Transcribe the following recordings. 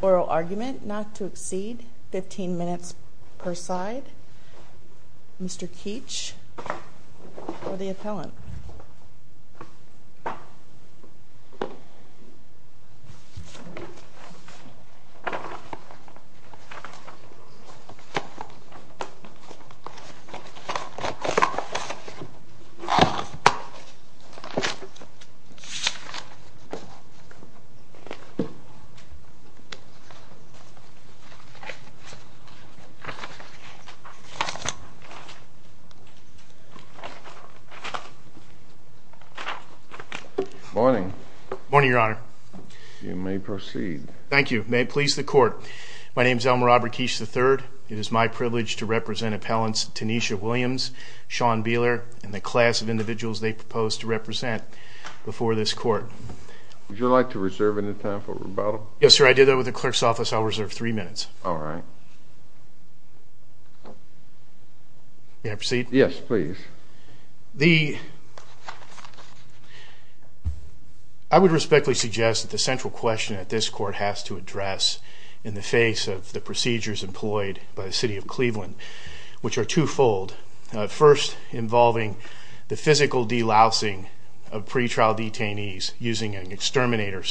Oral argument not to exceed 15 minutes per side. Mr. Keech for the appellant. Morning. Morning, your honor. You may proceed. Thank you. May it please the court. My name's Tynisa Williams, Sean Beeler, and the class of individuals they proposed to represent before this court. Would you like to reserve any time for rebuttal? Yes, sir. I did that with the clerk's office. I'll reserve three minutes. All right. May I proceed? Yes, please. I would respectfully suggest that the central question that this court has to address in the face of the procedures employed by the City of Cleveland, which are twofold, first involving the physical delousing of pretrial detainees using an exterminator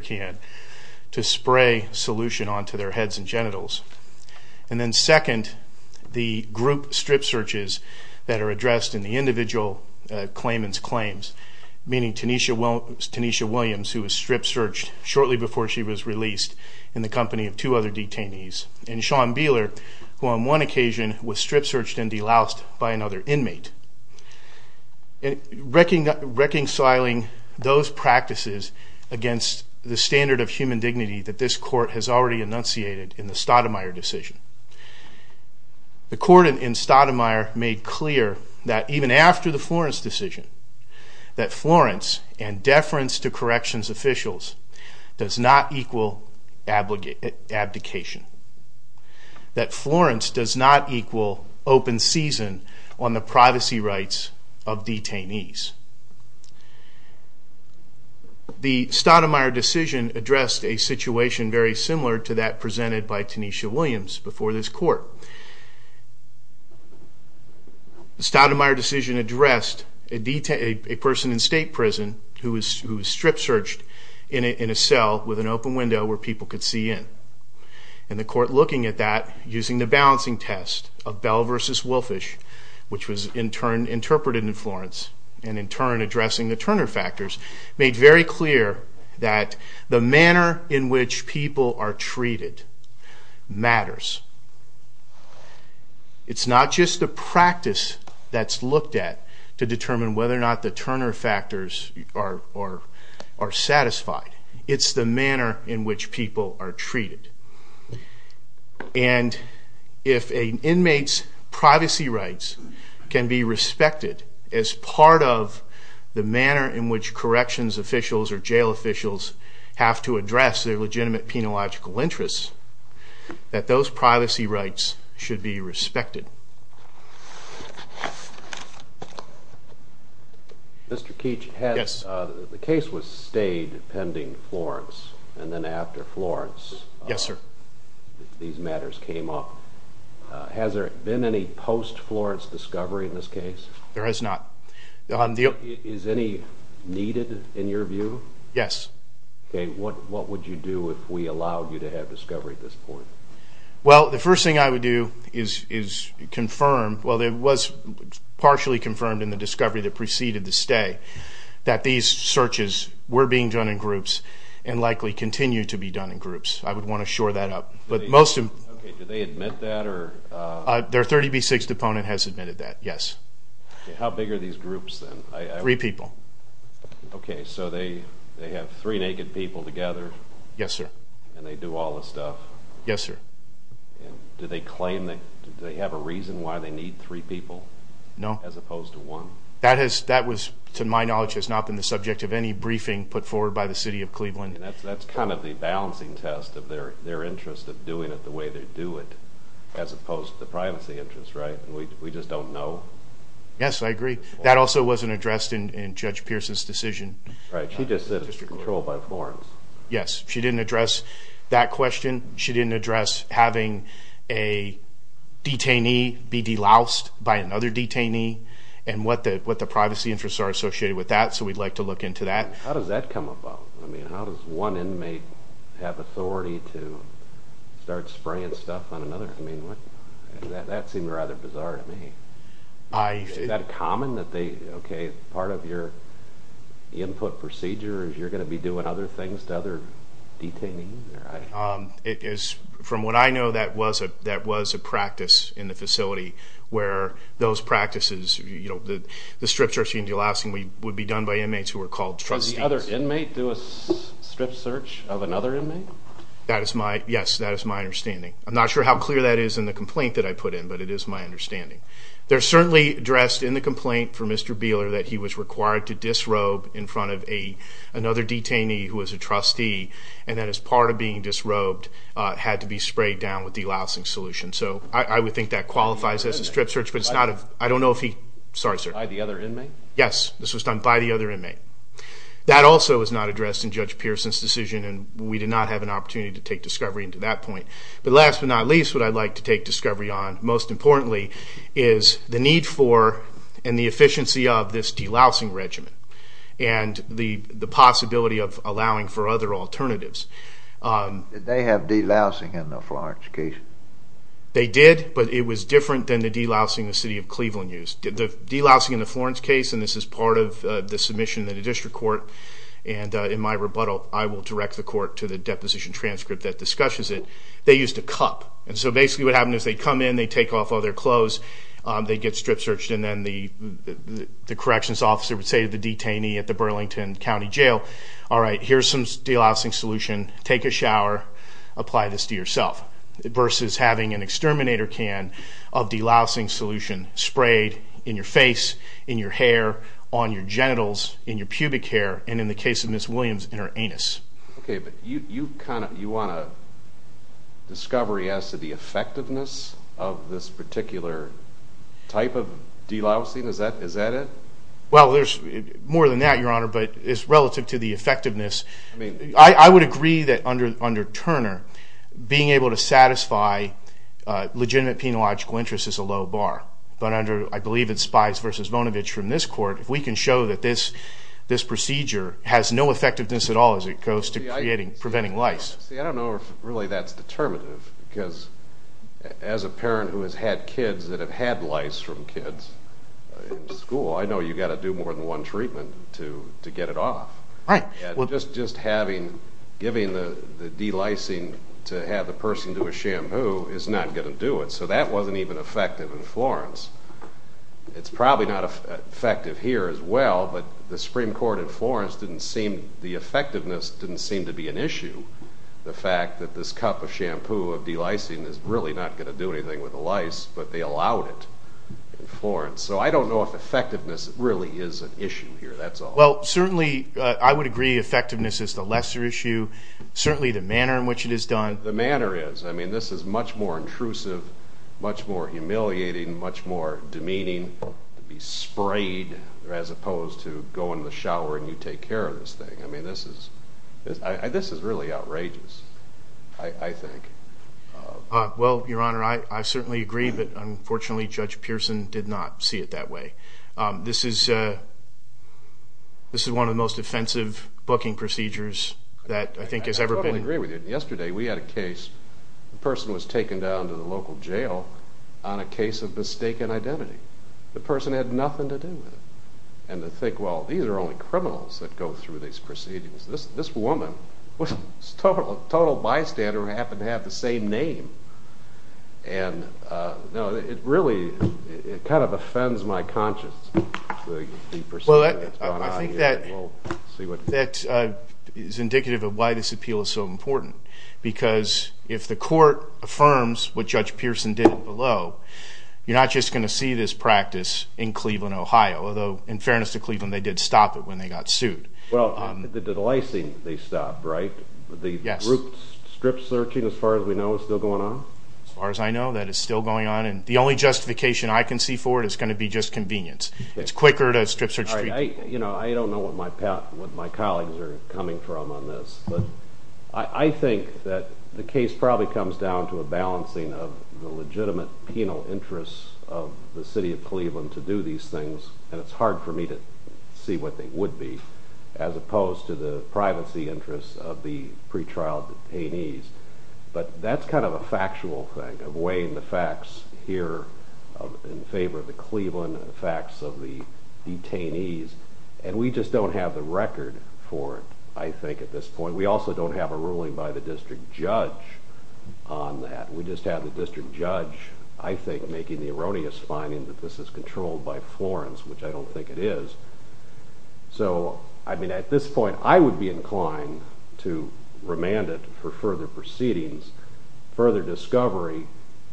can to spray solution onto their heads and genitals. And then second, the group strip searches that are addressed in the individual claimant's claims, meaning Tynisa Williams, who was strip searched and released in the company of two other detainees, and Sean Beeler, who on one occasion was strip searched and deloused by another inmate. Reconciling those practices against the standard of human dignity that this court has already enunciated in the Stoudemire decision. The court in Stoudemire made clear that even after the Florence decision, that does not equal abdication. That Florence does not equal open season on the privacy rights of detainees. The Stoudemire decision addressed a situation very similar to that presented by Tynisa Williams before this court. The Stoudemire decision addressed a person in an open window where people could see in. And the court, looking at that, using the balancing test of Bell v. Wilfish, which was in turn interpreted in Florence, and in turn addressing the Turner factors, made very clear that the manner in which people are treated matters. It's not just the practice that's looked at to determine whether or not the manner in which people are treated. And if an inmate's privacy rights can be respected as part of the manner in which corrections officials or jail officials have to address their legitimate penological interests, that those privacy rights should be respected. Mr. Keech, the case was stayed pending Florence, and then after Florence these matters came up. Has there been any post-Florence discovery in this case? There has not. Is any needed in your view? Yes. What would you do if we allowed you to have discovery at this point? Well, the first thing I would do is confirm, well it was partially confirmed in the discovery that preceded the stay, that these searches were being done in groups and likely continue to be done in groups. I would want to shore that up. Do they admit that? Their 30B6 deponent has admitted that, yes. How big are these groups then? Three people. Okay, so they have three naked people together? Yes, sir. And they do all the stuff? Yes, sir. Do they have a reason why they need three people? No. As opposed to one? That was, to my knowledge, has not been the subject of any briefing put forward by the City of Cleveland. That's kind of the balancing test of their interest of doing it the way they do it, as opposed to the privacy interest, right? We just don't know? Yes, I agree. That also wasn't addressed in Judge Pearson's decision. Right, she just said it was under control by Florence. Yes, she didn't address that question. She didn't address having a detainee be deloused by another detainee and what the privacy interests are associated with that, so we'd like to look into that. How does that come about? I mean, how does one inmate have authority to start spraying stuff on another? I mean, that seemed rather bizarre to me. Is that common that they, okay, part of your input procedure is you're going to be doing other things to other detainees? From what I know, that was a practice in the facility where those practices, you know, the strip search and delousing would be done by inmates who were called trustees. Does the other inmate do a strip search of another inmate? That is my, yes, that is my understanding. I'm not sure how clear that is in the complaint that I put in, but it is my understanding. There's certainly addressed in the complaint for Mr. Beeler that he was required to disrobe in front of another detainee who was a trustee and that as part of being disrobed had to be sprayed down with the delousing solution, so I would think that qualifies as a strip search, but it's not, I don't know if he, sorry sir. Yes, this was done by the other inmate. That also was not addressed in Judge Pearson's decision and we did not have an opportunity to take discovery into that point, but last but not least what I'd like to take discovery on most importantly is the need for and the efficiency of this delousing regimen and the possibility of allowing for other alternatives. Did they have delousing in the Florence case? They did, but it was different than the delousing the city of Cleveland used. The delousing in the Florence case, and this is part of the submission to the district court and in my rebuttal I will direct the court to the deposition transcript that discusses it, they used a cup and so basically what happened is they come in, they take off all their clothes, they get strip searched and then the corrections officer would say to the detainee at the Burlington County Jail, all right, here's some delousing solution, take a shower, apply this to yourself. Versus having an exterminator can of delousing solution sprayed in your face, in your hair, on your genitals, in your pubic hair and in the case of Ms. Williams in her anus. Okay, but you kind of, you want a discovery as to the effectiveness of this particular type of delousing, is that it? Well, there's more than that, your honor, but it's relative to the effectiveness. I would agree that under Turner, being able to satisfy legitimate penological interest is a low bar, but under, I believe it's Spies versus Vonovich from this court, if we can show that this procedure has no effectiveness at all as it goes to preventing lice. See, I don't know if really that's determinative because as a parent who has had kids that have had lice from kids in school, I know you've got to do more than one treatment to get it off. Right. Just having, giving the delicing to have the person do a shampoo is not going to do it, so that wasn't even effective in Florence. It's probably not effective here as well, but the Supreme Court in Florence didn't seem, the effectiveness didn't seem to be an issue. The fact that this cup of shampoo of delicing is really not going to do anything with the lice, but they allowed it in Florence, so I don't know if effectiveness really is an issue here, that's all. Well, certainly I would agree effectiveness is the lesser issue, certainly the manner in which it is done. The manner is. I mean, this is much more intrusive, much more humiliating, much more demeaning to be sprayed as opposed to go in the shower and you take care of this thing. I mean, this is, this is really outrageous, I think. Well, Your Honor, I certainly agree, but unfortunately Judge Pearson did not see it that way. This is, this is one of the most offensive booking procedures that I think has ever been. I totally agree with you. Yesterday we had a case, the person was taken down to the local jail on a case of mistaken identity. The person had nothing to do with it. And to think, well, these are only criminals that go through these proceedings. This woman was a total bystander who happened to have the same name. And, you know, it really, it kind of offends my conscience. Well, I think that is indicative of why this appeal is so important. Because if the court affirms what Judge Pearson did below, you're not just going to see this practice in Cleveland, Ohio. Although, in fairness to Cleveland, they did stop it when they got sued. Well, the licensing, they stopped, right? Yes. The group strip searching, as far as we know, is still going on? As far as I know, that is still going on. And the only justification I can see for it is going to be just convenience. It's quicker to strip search. You know, I don't know what my colleagues are coming from on this, but I think that the case probably comes down to a balancing of the legitimate penal interests of the city of Cleveland to do these things. And it's hard for me to see what they would be, as opposed to the privacy interests of the pretrial detainees. But that's kind of a factual thing, of weighing the facts here in favor of the Cleveland, the facts of the detainees. And we just don't have the record for it, I think, at this point. We also don't have a ruling by the district judge on that. We just have the district judge, I think, making the erroneous finding that this is controlled by Florence, which I don't think it is. So, I mean, at this point, I would be inclined to remand it for further proceedings, further discovery,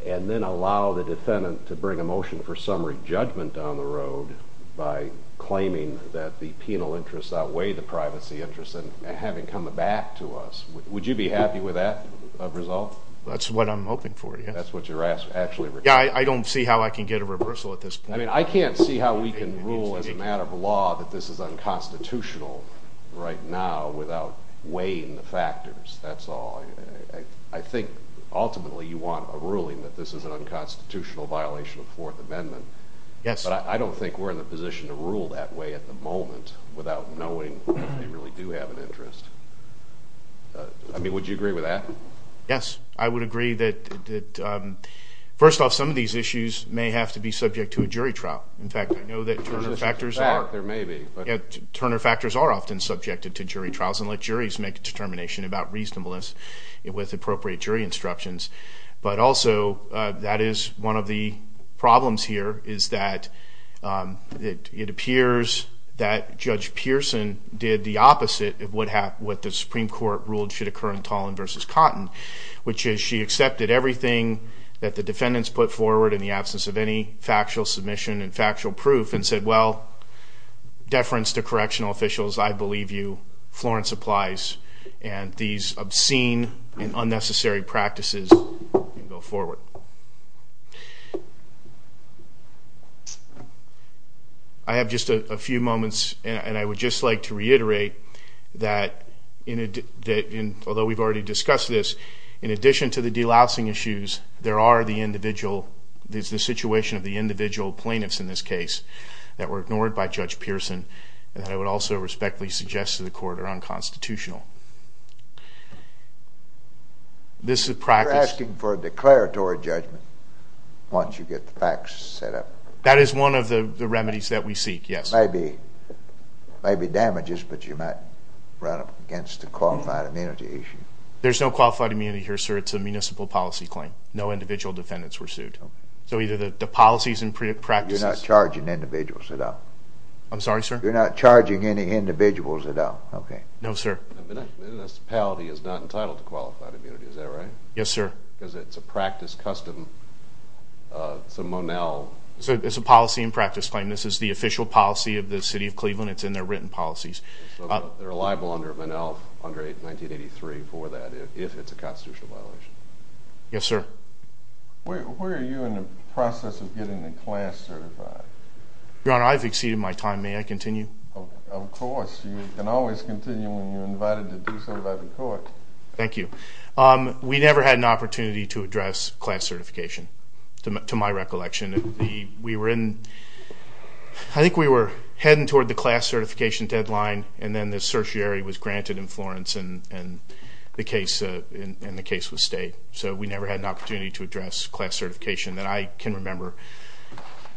and then allow the defendant to bring a motion for summary judgment down the road by claiming that the penal interests outweigh the privacy interests and have it come back to us. Would you be happy with that result? That's what I'm hoping for, yes. That's what you're actually requesting. Yeah, I don't see how I can get a reversal at this point. I mean, I can't see how we can rule as a matter of law that this is unconstitutional right now without weighing the factors, that's all. I think, ultimately, you want a ruling that this is an unconstitutional violation of the Fourth Amendment. Yes. But I don't think we're in the position to rule that way at the moment without knowing that they really do have an interest. I mean, would you agree with that? Yes. I would agree that, first off, some of these issues may have to be subject to a jury trial. In fact, I know that Turner factors are often subjected to jury trials and let juries make a determination about reasonableness with appropriate jury instructions. But also, that is one of the problems here, is that it appears that Judge Pearson did the opposite of what the Supreme Court ruled should occur in Tolan v. Cotton, which is she accepted everything that the defendants put forward in the absence of any factual submission and factual proof and said, well, deference to correctional officials, I believe you. Florence applies. And these obscene and unnecessary practices go forward. I have just a few moments, and I would just like to reiterate that, although we've already discussed this, in addition to the delousing issues, there is the situation of the individual plaintiffs in this case that were ignored by Judge Pearson and that I would also respectfully suggest to the Court are unconstitutional. You're asking for a declaratory judgment once you get the facts set up. That is one of the remedies that we seek, yes. Maybe damages, but you might run up against a qualified immunity issue. There's no qualified immunity here, sir. It's a municipal policy claim. No individual defendants were sued. So either the policies and practices... You're not charging individuals at all? I'm sorry, sir? You're not charging any individuals at all? No, sir. A municipality is not entitled to qualified immunity, is that right? Yes, sir. Because it's a practice custom, it's a Monell... It's a policy and practice claim. This is the official policy of the city of Cleveland. It's in their written policies. So they're liable under Monell under 1983 for that if it's a constitutional violation? Yes, sir. Where are you in the process of getting the class certified? Your Honor, I've exceeded my time. May I continue? Of course. You can always continue when you're invited to do so by the Court. Thank you. We never had an opportunity to address class certification to my recollection. I think we were heading toward the class certification deadline and then the certiorari was granted in Florence and the case was stayed. So we never had an opportunity to address class certification that I can remember.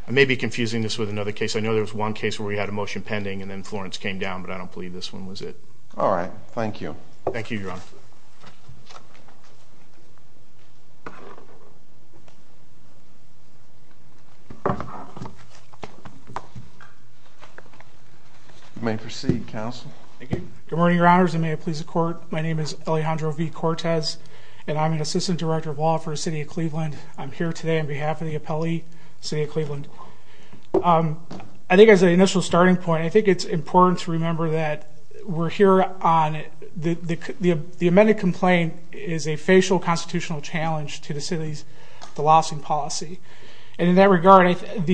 I may be confusing this with another case. I know there was one case where we had a motion pending and then Florence came down, but I don't believe this one was it. All right. Thank you. Thank you, Your Honor. Thank you. You may proceed, Counsel. Thank you. Good morning, Your Honors, and may it please the Court. My name is Alejandro V. Cortez, and I'm an Assistant Director of Law for the City of Cleveland. I'm here today on behalf of the appellee, the City of Cleveland. I think as an initial starting point, I think it's important to remember that we're here on the amended complaint is a facial constitutional challenge to the city's delossing policy. And in that regard, I think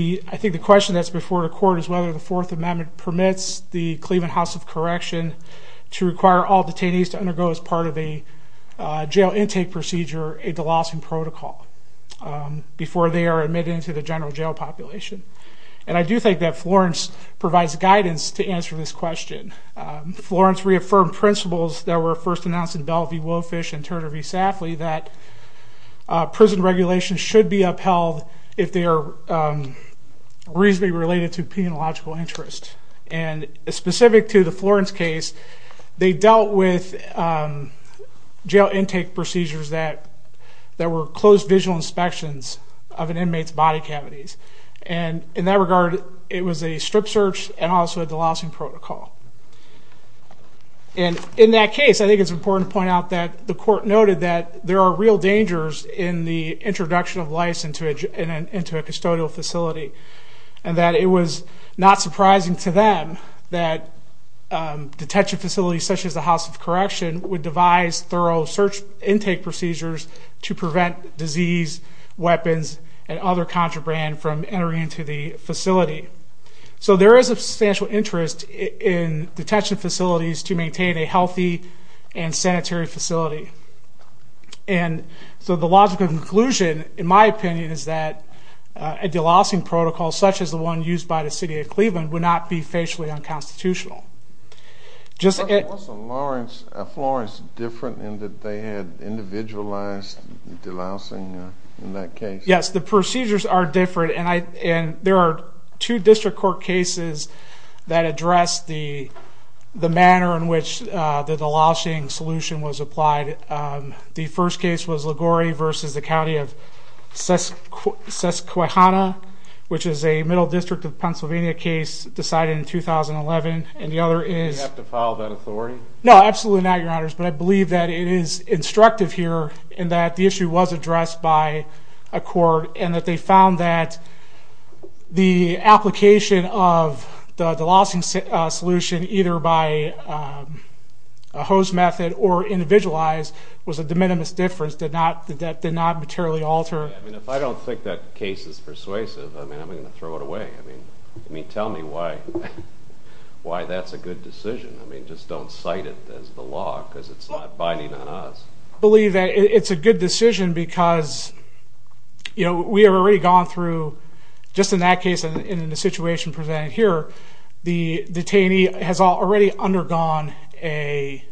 the question that's before the Court is whether the Fourth Amendment permits the Cleveland House of Correction to require all detainees to undergo, as part of a jail intake procedure, a delossing protocol before they are admitted into the general jail population. And I do think that Florence provides guidance to answer this question. Florence reaffirmed principles that were first announced in Bell v. Wofish and Turner v. Safley that prison regulations should be upheld if they are reasonably related to penological interest. And specific to the Florence case, they dealt with jail intake procedures that were closed visual inspections of an inmate's body cavities. And in that regard, it was a strip search and also a delossing protocol. And in that case, I think it's important to point out that the Court noted that there are real dangers in the introduction of lice into a custodial facility. And that it was not surprising to them that detention facilities such as the House of Correction would devise thorough search intake procedures to prevent disease, weapons, and other contraband from entering into the facility. So there is substantial interest in detention facilities to maintain a healthy and sanitary facility. And so the logical conclusion, in my opinion, is that a delossing protocol, such as the one used by the city of Cleveland, would not be facially unconstitutional. Was the Florence different in that they had individualized delossing in that case? Yes, the procedures are different. And there are two district court cases that address the manner in which the delossing solution was applied. The first case was Liguori v. The County of Susquehanna, which is a Middle District of Pennsylvania case decided in 2011. Do you have to file that authority? No, absolutely not, Your Honors. But I believe that it is instructive here in that the issue was addressed by a court and that they found that the application of the delossing solution either by a host method or individualized was a de minimis difference that did not materially alter. If I don't think that case is persuasive, I'm going to throw it away. Tell me why that's a good decision. Just don't cite it as the law because it's not binding on us. I believe that it's a good decision because we have already gone through, just in that case and in the situation presented here, the detainee has already undergone a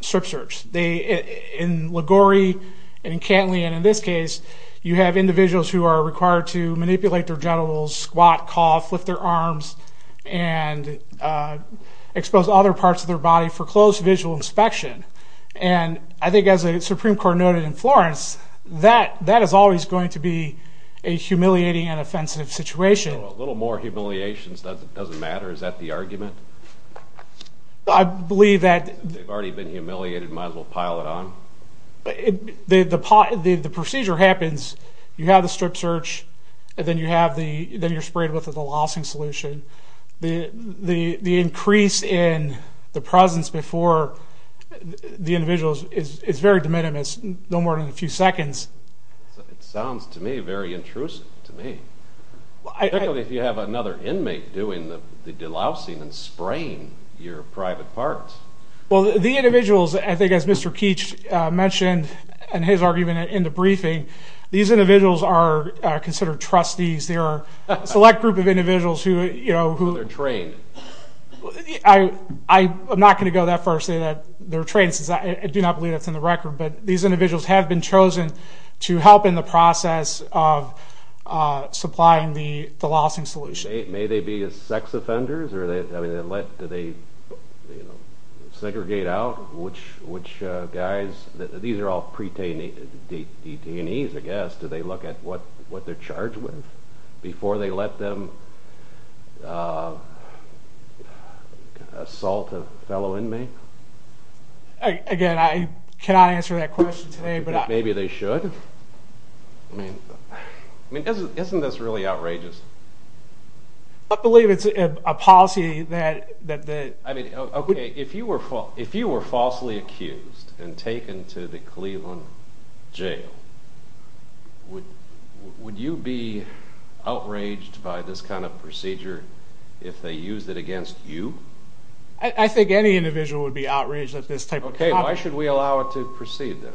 strip search. In Liguori and in Cantley and in this case, you have individuals who are required to manipulate their genitals, squat, cough, lift their arms, and expose other parts of their body for close visual inspection. And I think as the Supreme Court noted in Florence, that is always going to be a humiliating and offensive situation. A little more humiliations doesn't matter. Is that the argument? I believe that... They've already been humiliated, might as well pile it on. The procedure happens. You have the strip search and then you're sprayed with a delossing solution. The increase in the presence before the individuals is very de minimis, no more than a few seconds. It sounds to me very intrusive, to me. Particularly if you have another inmate doing the delossing and spraying your private parts. Well, the individuals, I think as Mr. Keech mentioned in his argument in the briefing, these individuals are considered trustees. They're a select group of individuals who... They're trained. I'm not going to go that far and say that they're trained since I do not believe that's in the record. But these individuals have been chosen to help in the process of supplying the delossing solution. May they be sex offenders? Do they segregate out which guys? These are all pre-detainees, I guess. Do they look at what they're charged with before they let them assault a fellow inmate? Again, I cannot answer that question today. Maybe they should? Isn't this really outrageous? I believe it's a policy that... If you were falsely accused and taken to the Cleveland jail, would you be outraged by this kind of procedure if they used it against you? I think any individual would be outraged at this type of problem. Okay, why should we allow it to proceed then?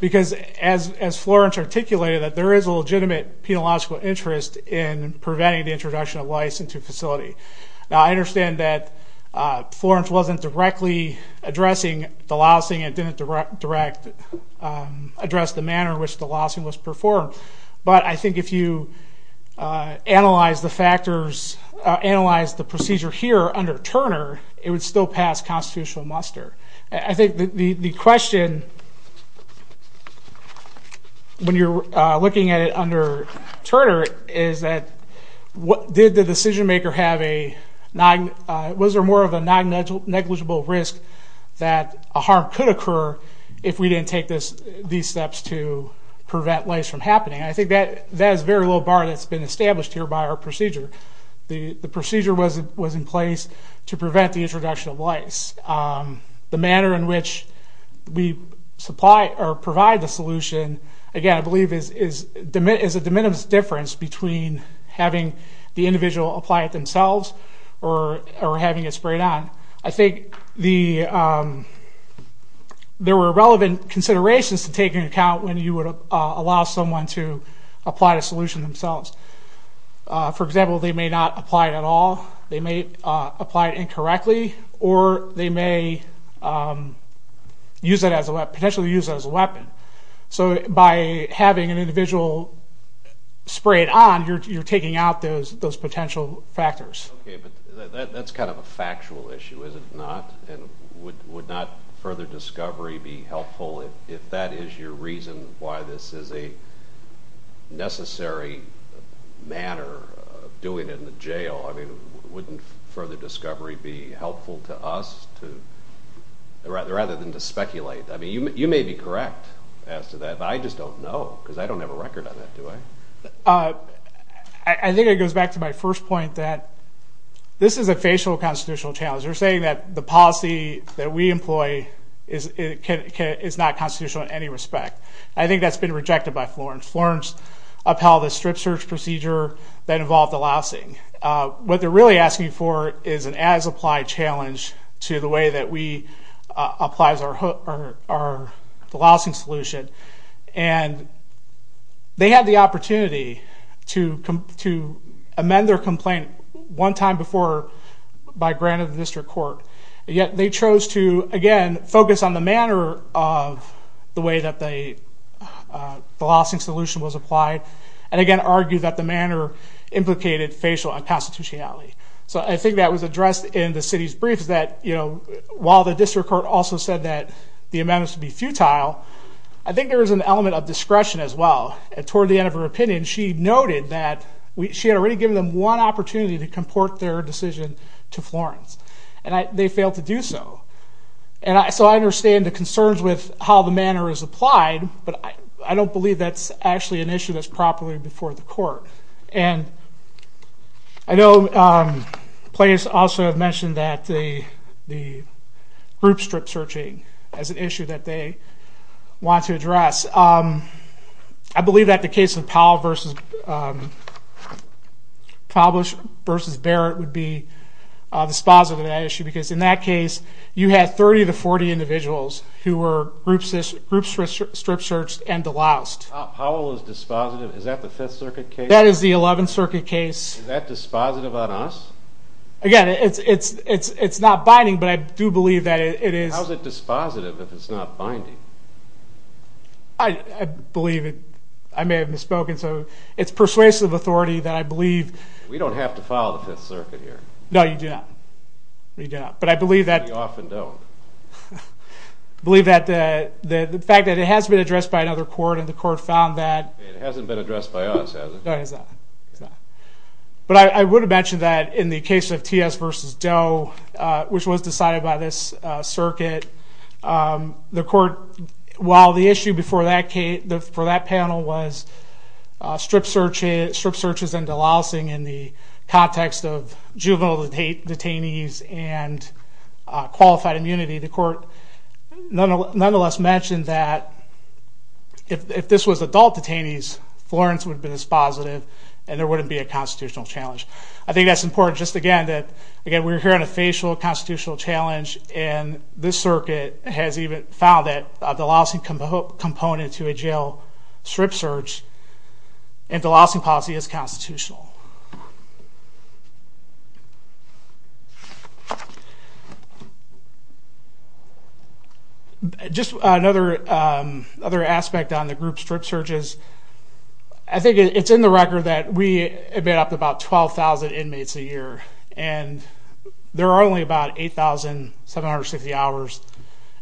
Because as Florence articulated, there is a legitimate penological interest in preventing the introduction of lice into a facility. Now, I understand that Florence wasn't directly addressing delossing and didn't address the manner in which delossing was performed. But I think if you analyze the procedure here under Turner, it would still pass constitutional muster. I think the question, when you're looking at it under Turner, is that did the decision-maker have a... Was there more of a non-negligible risk that a harm could occur if we didn't take these steps to prevent lice from happening? I think that is a very low bar that's been established here by our procedure. The procedure was in place to prevent the introduction of lice. The manner in which we supply or provide the solution, again, I believe is a diminutive difference between having the individual apply it themselves or having it sprayed on. I think there were relevant considerations to take into account when you would allow someone to apply the solution themselves. For example, they may not apply it at all, they may apply it incorrectly, or they may potentially use it as a weapon. So by having an individual spray it on, you're taking out those potential factors. Okay, but that's kind of a factual issue, is it not? Would not further discovery be helpful if that is your reason why this is a necessary manner of doing it in the jail? Wouldn't further discovery be helpful to us rather than to speculate? You may be correct as to that, but I just don't know because I don't have a record on that, do I? I think it goes back to my first point that this is a facial constitutional challenge. They're saying that the policy that we employ is not constitutional in any respect. I think that's been rejected by Florence. Florence upheld a strip search procedure that involved the lousing. What they're really asking for is an as-applied challenge to the way that we apply the lousing solution. And they had the opportunity to amend their complaint one time before by grant of the district court, yet they chose to, again, focus on the manner of the way that the lousing solution was applied and, again, argue that the manner implicated facial unconstitutionality. So I think that was addressed in the city's briefs that, you know, while the district court also said that the amendments would be futile, I think there was an element of discretion as well. Toward the end of her opinion, she noted that she had already given them one opportunity to comport their decision to Florence, and they failed to do so. So I understand the concerns with how the manner is applied, but I don't believe that's actually an issue that's properly before the court. And I know players also have mentioned the group strip searching as an issue that they want to address. I believe that the case of Powell v. Barrett would be dispositive of that issue because in that case, you had 30 to 40 individuals who were group strip searched and deloused. Powell is dispositive? Is that the Fifth Circuit case? That is the Eleventh Circuit case. Is that dispositive on us? Again, it's not binding, but I do believe that it is. How is it dispositive if it's not binding? I believe it. I may have misspoken. So it's persuasive authority that I believe. We don't have to file the Fifth Circuit here. No, you do not. But I believe that. We often don't. I believe that the fact that it has been addressed by another court and the court found that. It hasn't been addressed by us, has it? No, it has not. But I would have mentioned that in the case of T.S. v. Doe, which was decided by this circuit, the court, while the issue for that panel was strip searches and delousing in the context of juvenile detainees and qualified immunity, the court nonetheless mentioned that if this was adult detainees, Florence would have been dispositive and there wouldn't be a constitutional challenge. I think that's important just, again, that we're here on a facial constitutional challenge, and this circuit has even found that the delousing component to a jail strip search and delousing policy is constitutional. Just another aspect on the group strip searches. I think it's in the record that we admit up to about 12,000 inmates a year, and there are only about 8,750 hours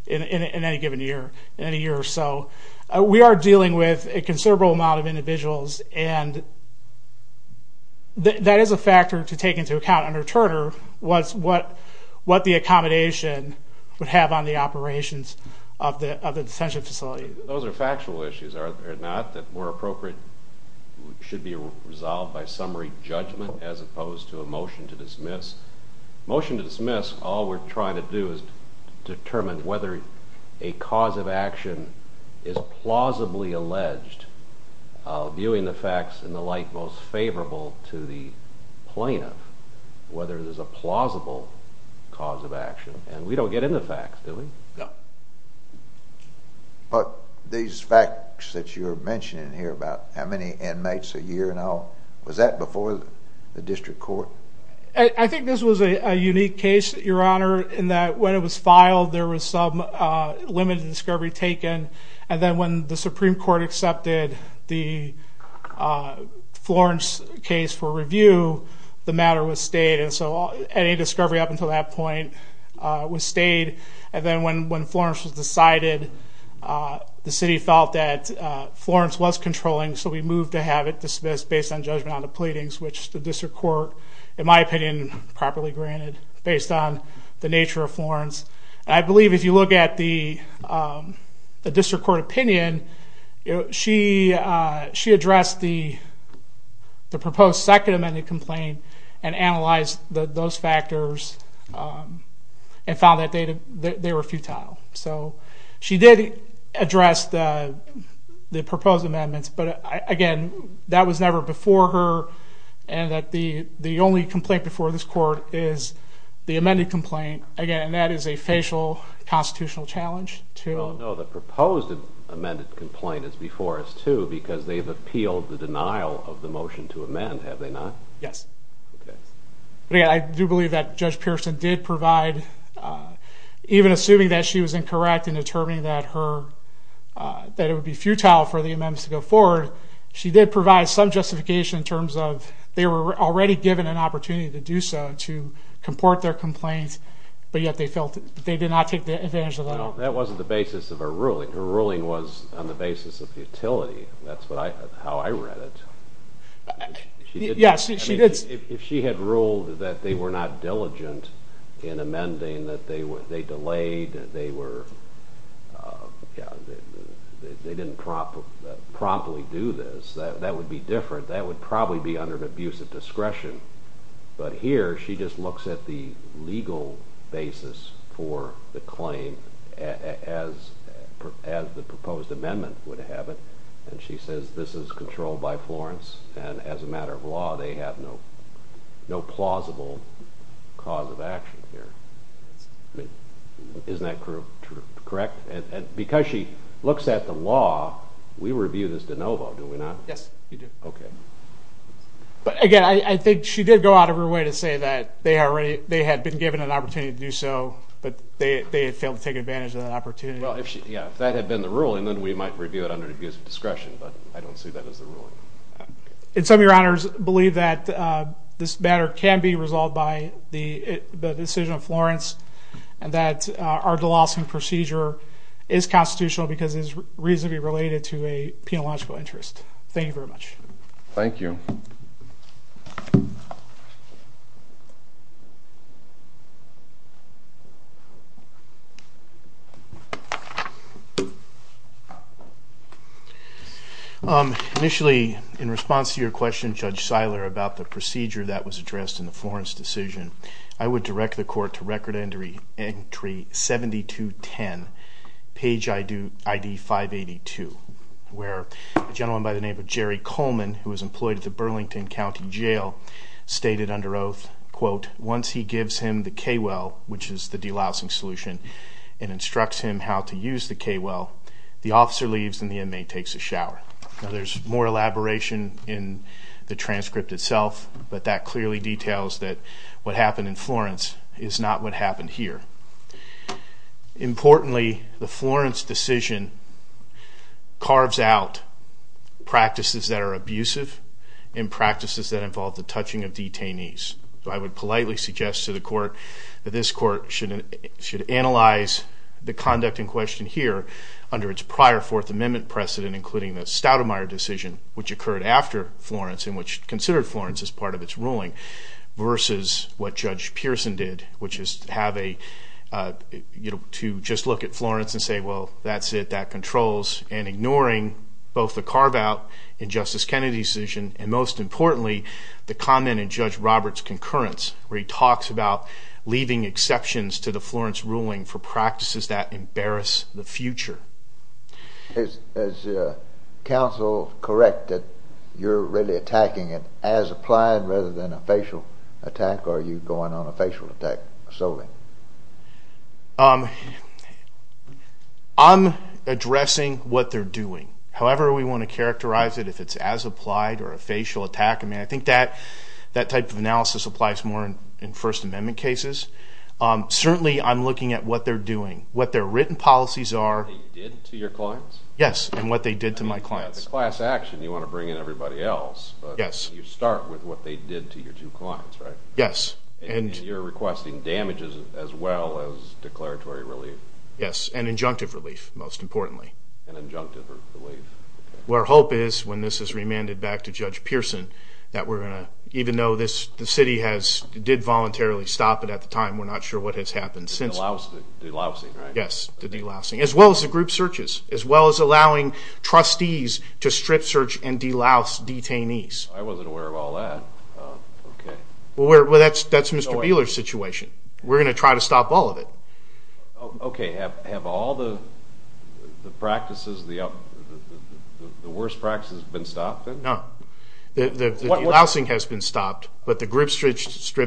in any given year, in any year or so. We are dealing with a considerable amount of individuals, and that is a factor to take into account under Turner what the accommodation would have on the operations of the detention facility. Those are factual issues, are they not? That more appropriate should be resolved by summary judgment as opposed to a motion to dismiss? Motion to dismiss, all we're trying to do is determine whether a cause of action is plausibly alleged, viewing the facts and the like most favorable to the plaintiff, whether there's a plausible cause of action, and we don't get into facts, do we? No. But these facts that you're mentioning here about how many inmates a year and all, was that before the district court? I think this was a unique case, Your Honor, in that when it was filed there was some limited discovery taken, and then when the Supreme Court accepted the Florence case for review, the matter was stayed, and so any discovery up until that point was stayed. And then when Florence was decided, the city felt that Florence was controlling, so we moved to have it dismissed based on judgment on the pleadings, which the district court, in my opinion, properly granted based on the nature of Florence. And I believe if you look at the district court opinion, she addressed the proposed second amendment complaint and analyzed those factors and found that they were futile. So she did address the proposed amendments, but, again, that was never before her and that the only complaint before this court is the amended complaint. Again, that is a facial constitutional challenge. No, the proposed amended complaint is before us too because they've appealed the denial of the motion to amend, have they not? Yes. But, again, I do believe that Judge Pearson did provide, even assuming that she was incorrect in determining that it would be futile for the amendments to go forward, she did provide some justification in terms of they were already given an opportunity to do so, to comport their complaints, but yet they did not take advantage of that. No, that wasn't the basis of her ruling. Her ruling was on the basis of futility. That's how I read it. Yes, she did. If she had ruled that they were not diligent in amending, that they delayed, that they didn't promptly do this, that would be different. That would probably be under an abuse of discretion. But here she just looks at the legal basis for the claim as the proposed amendment would have it, and she says this is controlled by Florence, and as a matter of law they have no plausible cause of action here. Isn't that correct? Because she looks at the law, we review this de novo, do we not? Yes, you do. Okay. But, again, I think she did go out of her way to say that they had been given an opportunity to do so, but they had failed to take advantage of that opportunity. Well, if that had been the ruling, then we might review it under an abuse of discretion, but I don't see that as the ruling. And some of your honors believe that this matter can be resolved by the decision of Florence and that our DeLawson procedure is constitutional because it is reasonably related to a penological interest. Thank you very much. Thank you. Initially, in response to your question, Judge Seiler, about the procedure that was addressed in the Florence decision, I would direct the court to Record Entry 7210, page ID 582, where a gentleman by the name of Jerry Coleman, who was employed at the Burlington County Jail, stated under oath, quote, once he gives him the K-Well, which is the DeLawson solution, and instructs him how to use the K-Well, the officer leaves and the inmate takes a shower. Now, there's more elaboration in the transcript itself, but that clearly details that what happened in Florence is not what happened here. Importantly, the Florence decision carves out practices that are abusive and practices that involve the touching of detainees. So I would politely suggest to the court that this court should analyze the conduct in question here under its prior Fourth Amendment precedent, including the Stoudemire decision, which occurred after Florence and which considered Florence as part of its ruling, versus what Judge Pearson did, which is to just look at Florence and say, well, that's it, that controls, and ignoring both the carve-out in Justice Kennedy's decision and, most importantly, the comment in Judge Roberts' concurrence, where he talks about leaving exceptions to the Florence ruling for practices that embarrass the future. Is counsel correct that you're really attacking it as applied rather than a facial attack, or are you going on a facial attack solely? I'm addressing what they're doing. However we want to characterize it, if it's as applied or a facial attack, I think that type of analysis applies more in First Amendment cases. Certainly I'm looking at what they're doing, what their written policies are. What they did to your clients? Yes, and what they did to my clients. The class action, you want to bring in everybody else, but you start with what they did to your two clients, right? Yes. And you're requesting damages as well as declaratory relief? Yes, and injunctive relief, most importantly. And injunctive relief. Our hope is, when this is remanded back to Judge Pearson, that we're going to, even though the city did voluntarily stop it at the time, we're not sure what has happened since. The delousing, right? Yes, the delousing, as well as the group searches, as well as allowing trustees to strip search and delouse detainees. I wasn't aware of all that. Well, that's Mr. Beeler's situation. We're going to try to stop all of it. Okay. Have all the practices, the worst practices, been stopped? No. The delousing has been stopped, but the group strip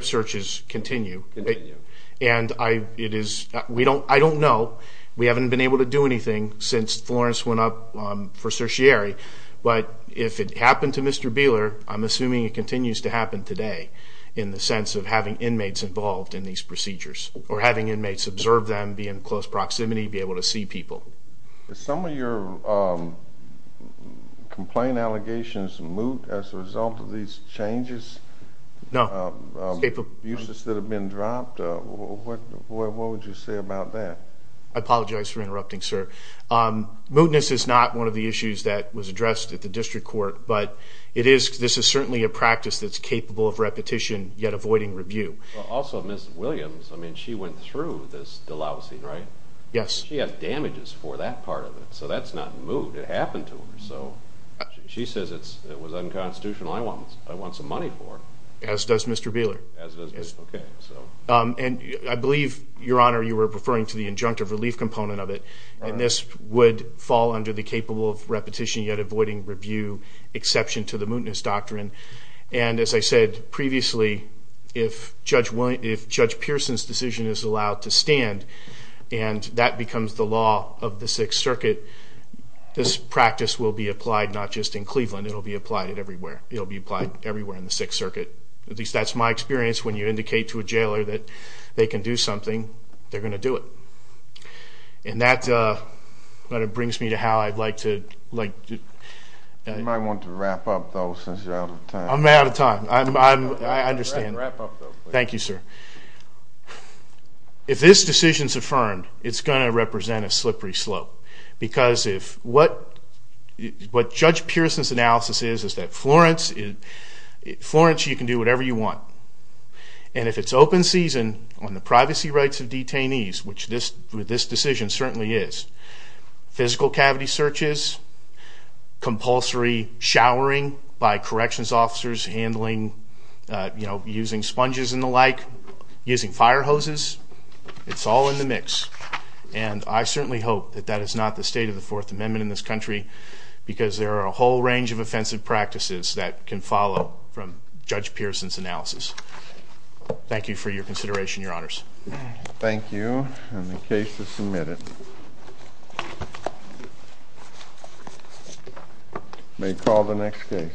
searches continue. Continue. And I don't know. We haven't been able to do anything since Florence went up for certiorari, but if it happened to Mr. Beeler, I'm assuming it continues to happen today in the sense of having inmates involved in these procedures or having inmates observe them, be in close proximity, be able to see people. Did some of your complaint allegations moot as a result of these changes? No. Uses that have been dropped? What would you say about that? I apologize for interrupting, sir. Mootness is not one of the issues that was addressed at the district court, but this is certainly a practice that's capable of repetition, yet avoiding review. Also, Ms. Williams, I mean, she went through this delousing, right? Yes. She has damages for that part of it, so that's not moot. It happened to her. She says it was unconstitutional. I want some money for it. As does Mr. Beeler. As does Ms. Beeler. Okay. And I believe, Your Honor, you were referring to the injunctive relief component of it, and this would fall under the capable of repetition, yet avoiding review exception to the mootness doctrine. And as I said previously, if Judge Pearson's decision is allowed to stand and that becomes the law of the Sixth Circuit, this practice will be applied not just in Cleveland. It will be applied everywhere. It will be applied everywhere in the Sixth Circuit. At least that's my experience. When you indicate to a jailer that they can do something, they're going to do it. Wrap up, though, since you're out of time. I'm out of time. I understand. Wrap up, though. Thank you, sir. If this decision is affirmed, it's going to represent a slippery slope because what Judge Pearson's analysis is is that Florence, you can do whatever you want. And if it's open season on the privacy rights of detainees, which this decision certainly is, physical cavity searches, compulsory showering by corrections officers, handling using sponges and the like, using fire hoses, it's all in the mix. And I certainly hope that that is not the state of the Fourth Amendment in this country because there are a whole range of offensive practices that can follow from Judge Pearson's analysis. Thank you for your consideration, Your Honors. Thank you. And the case is submitted. May call the next case.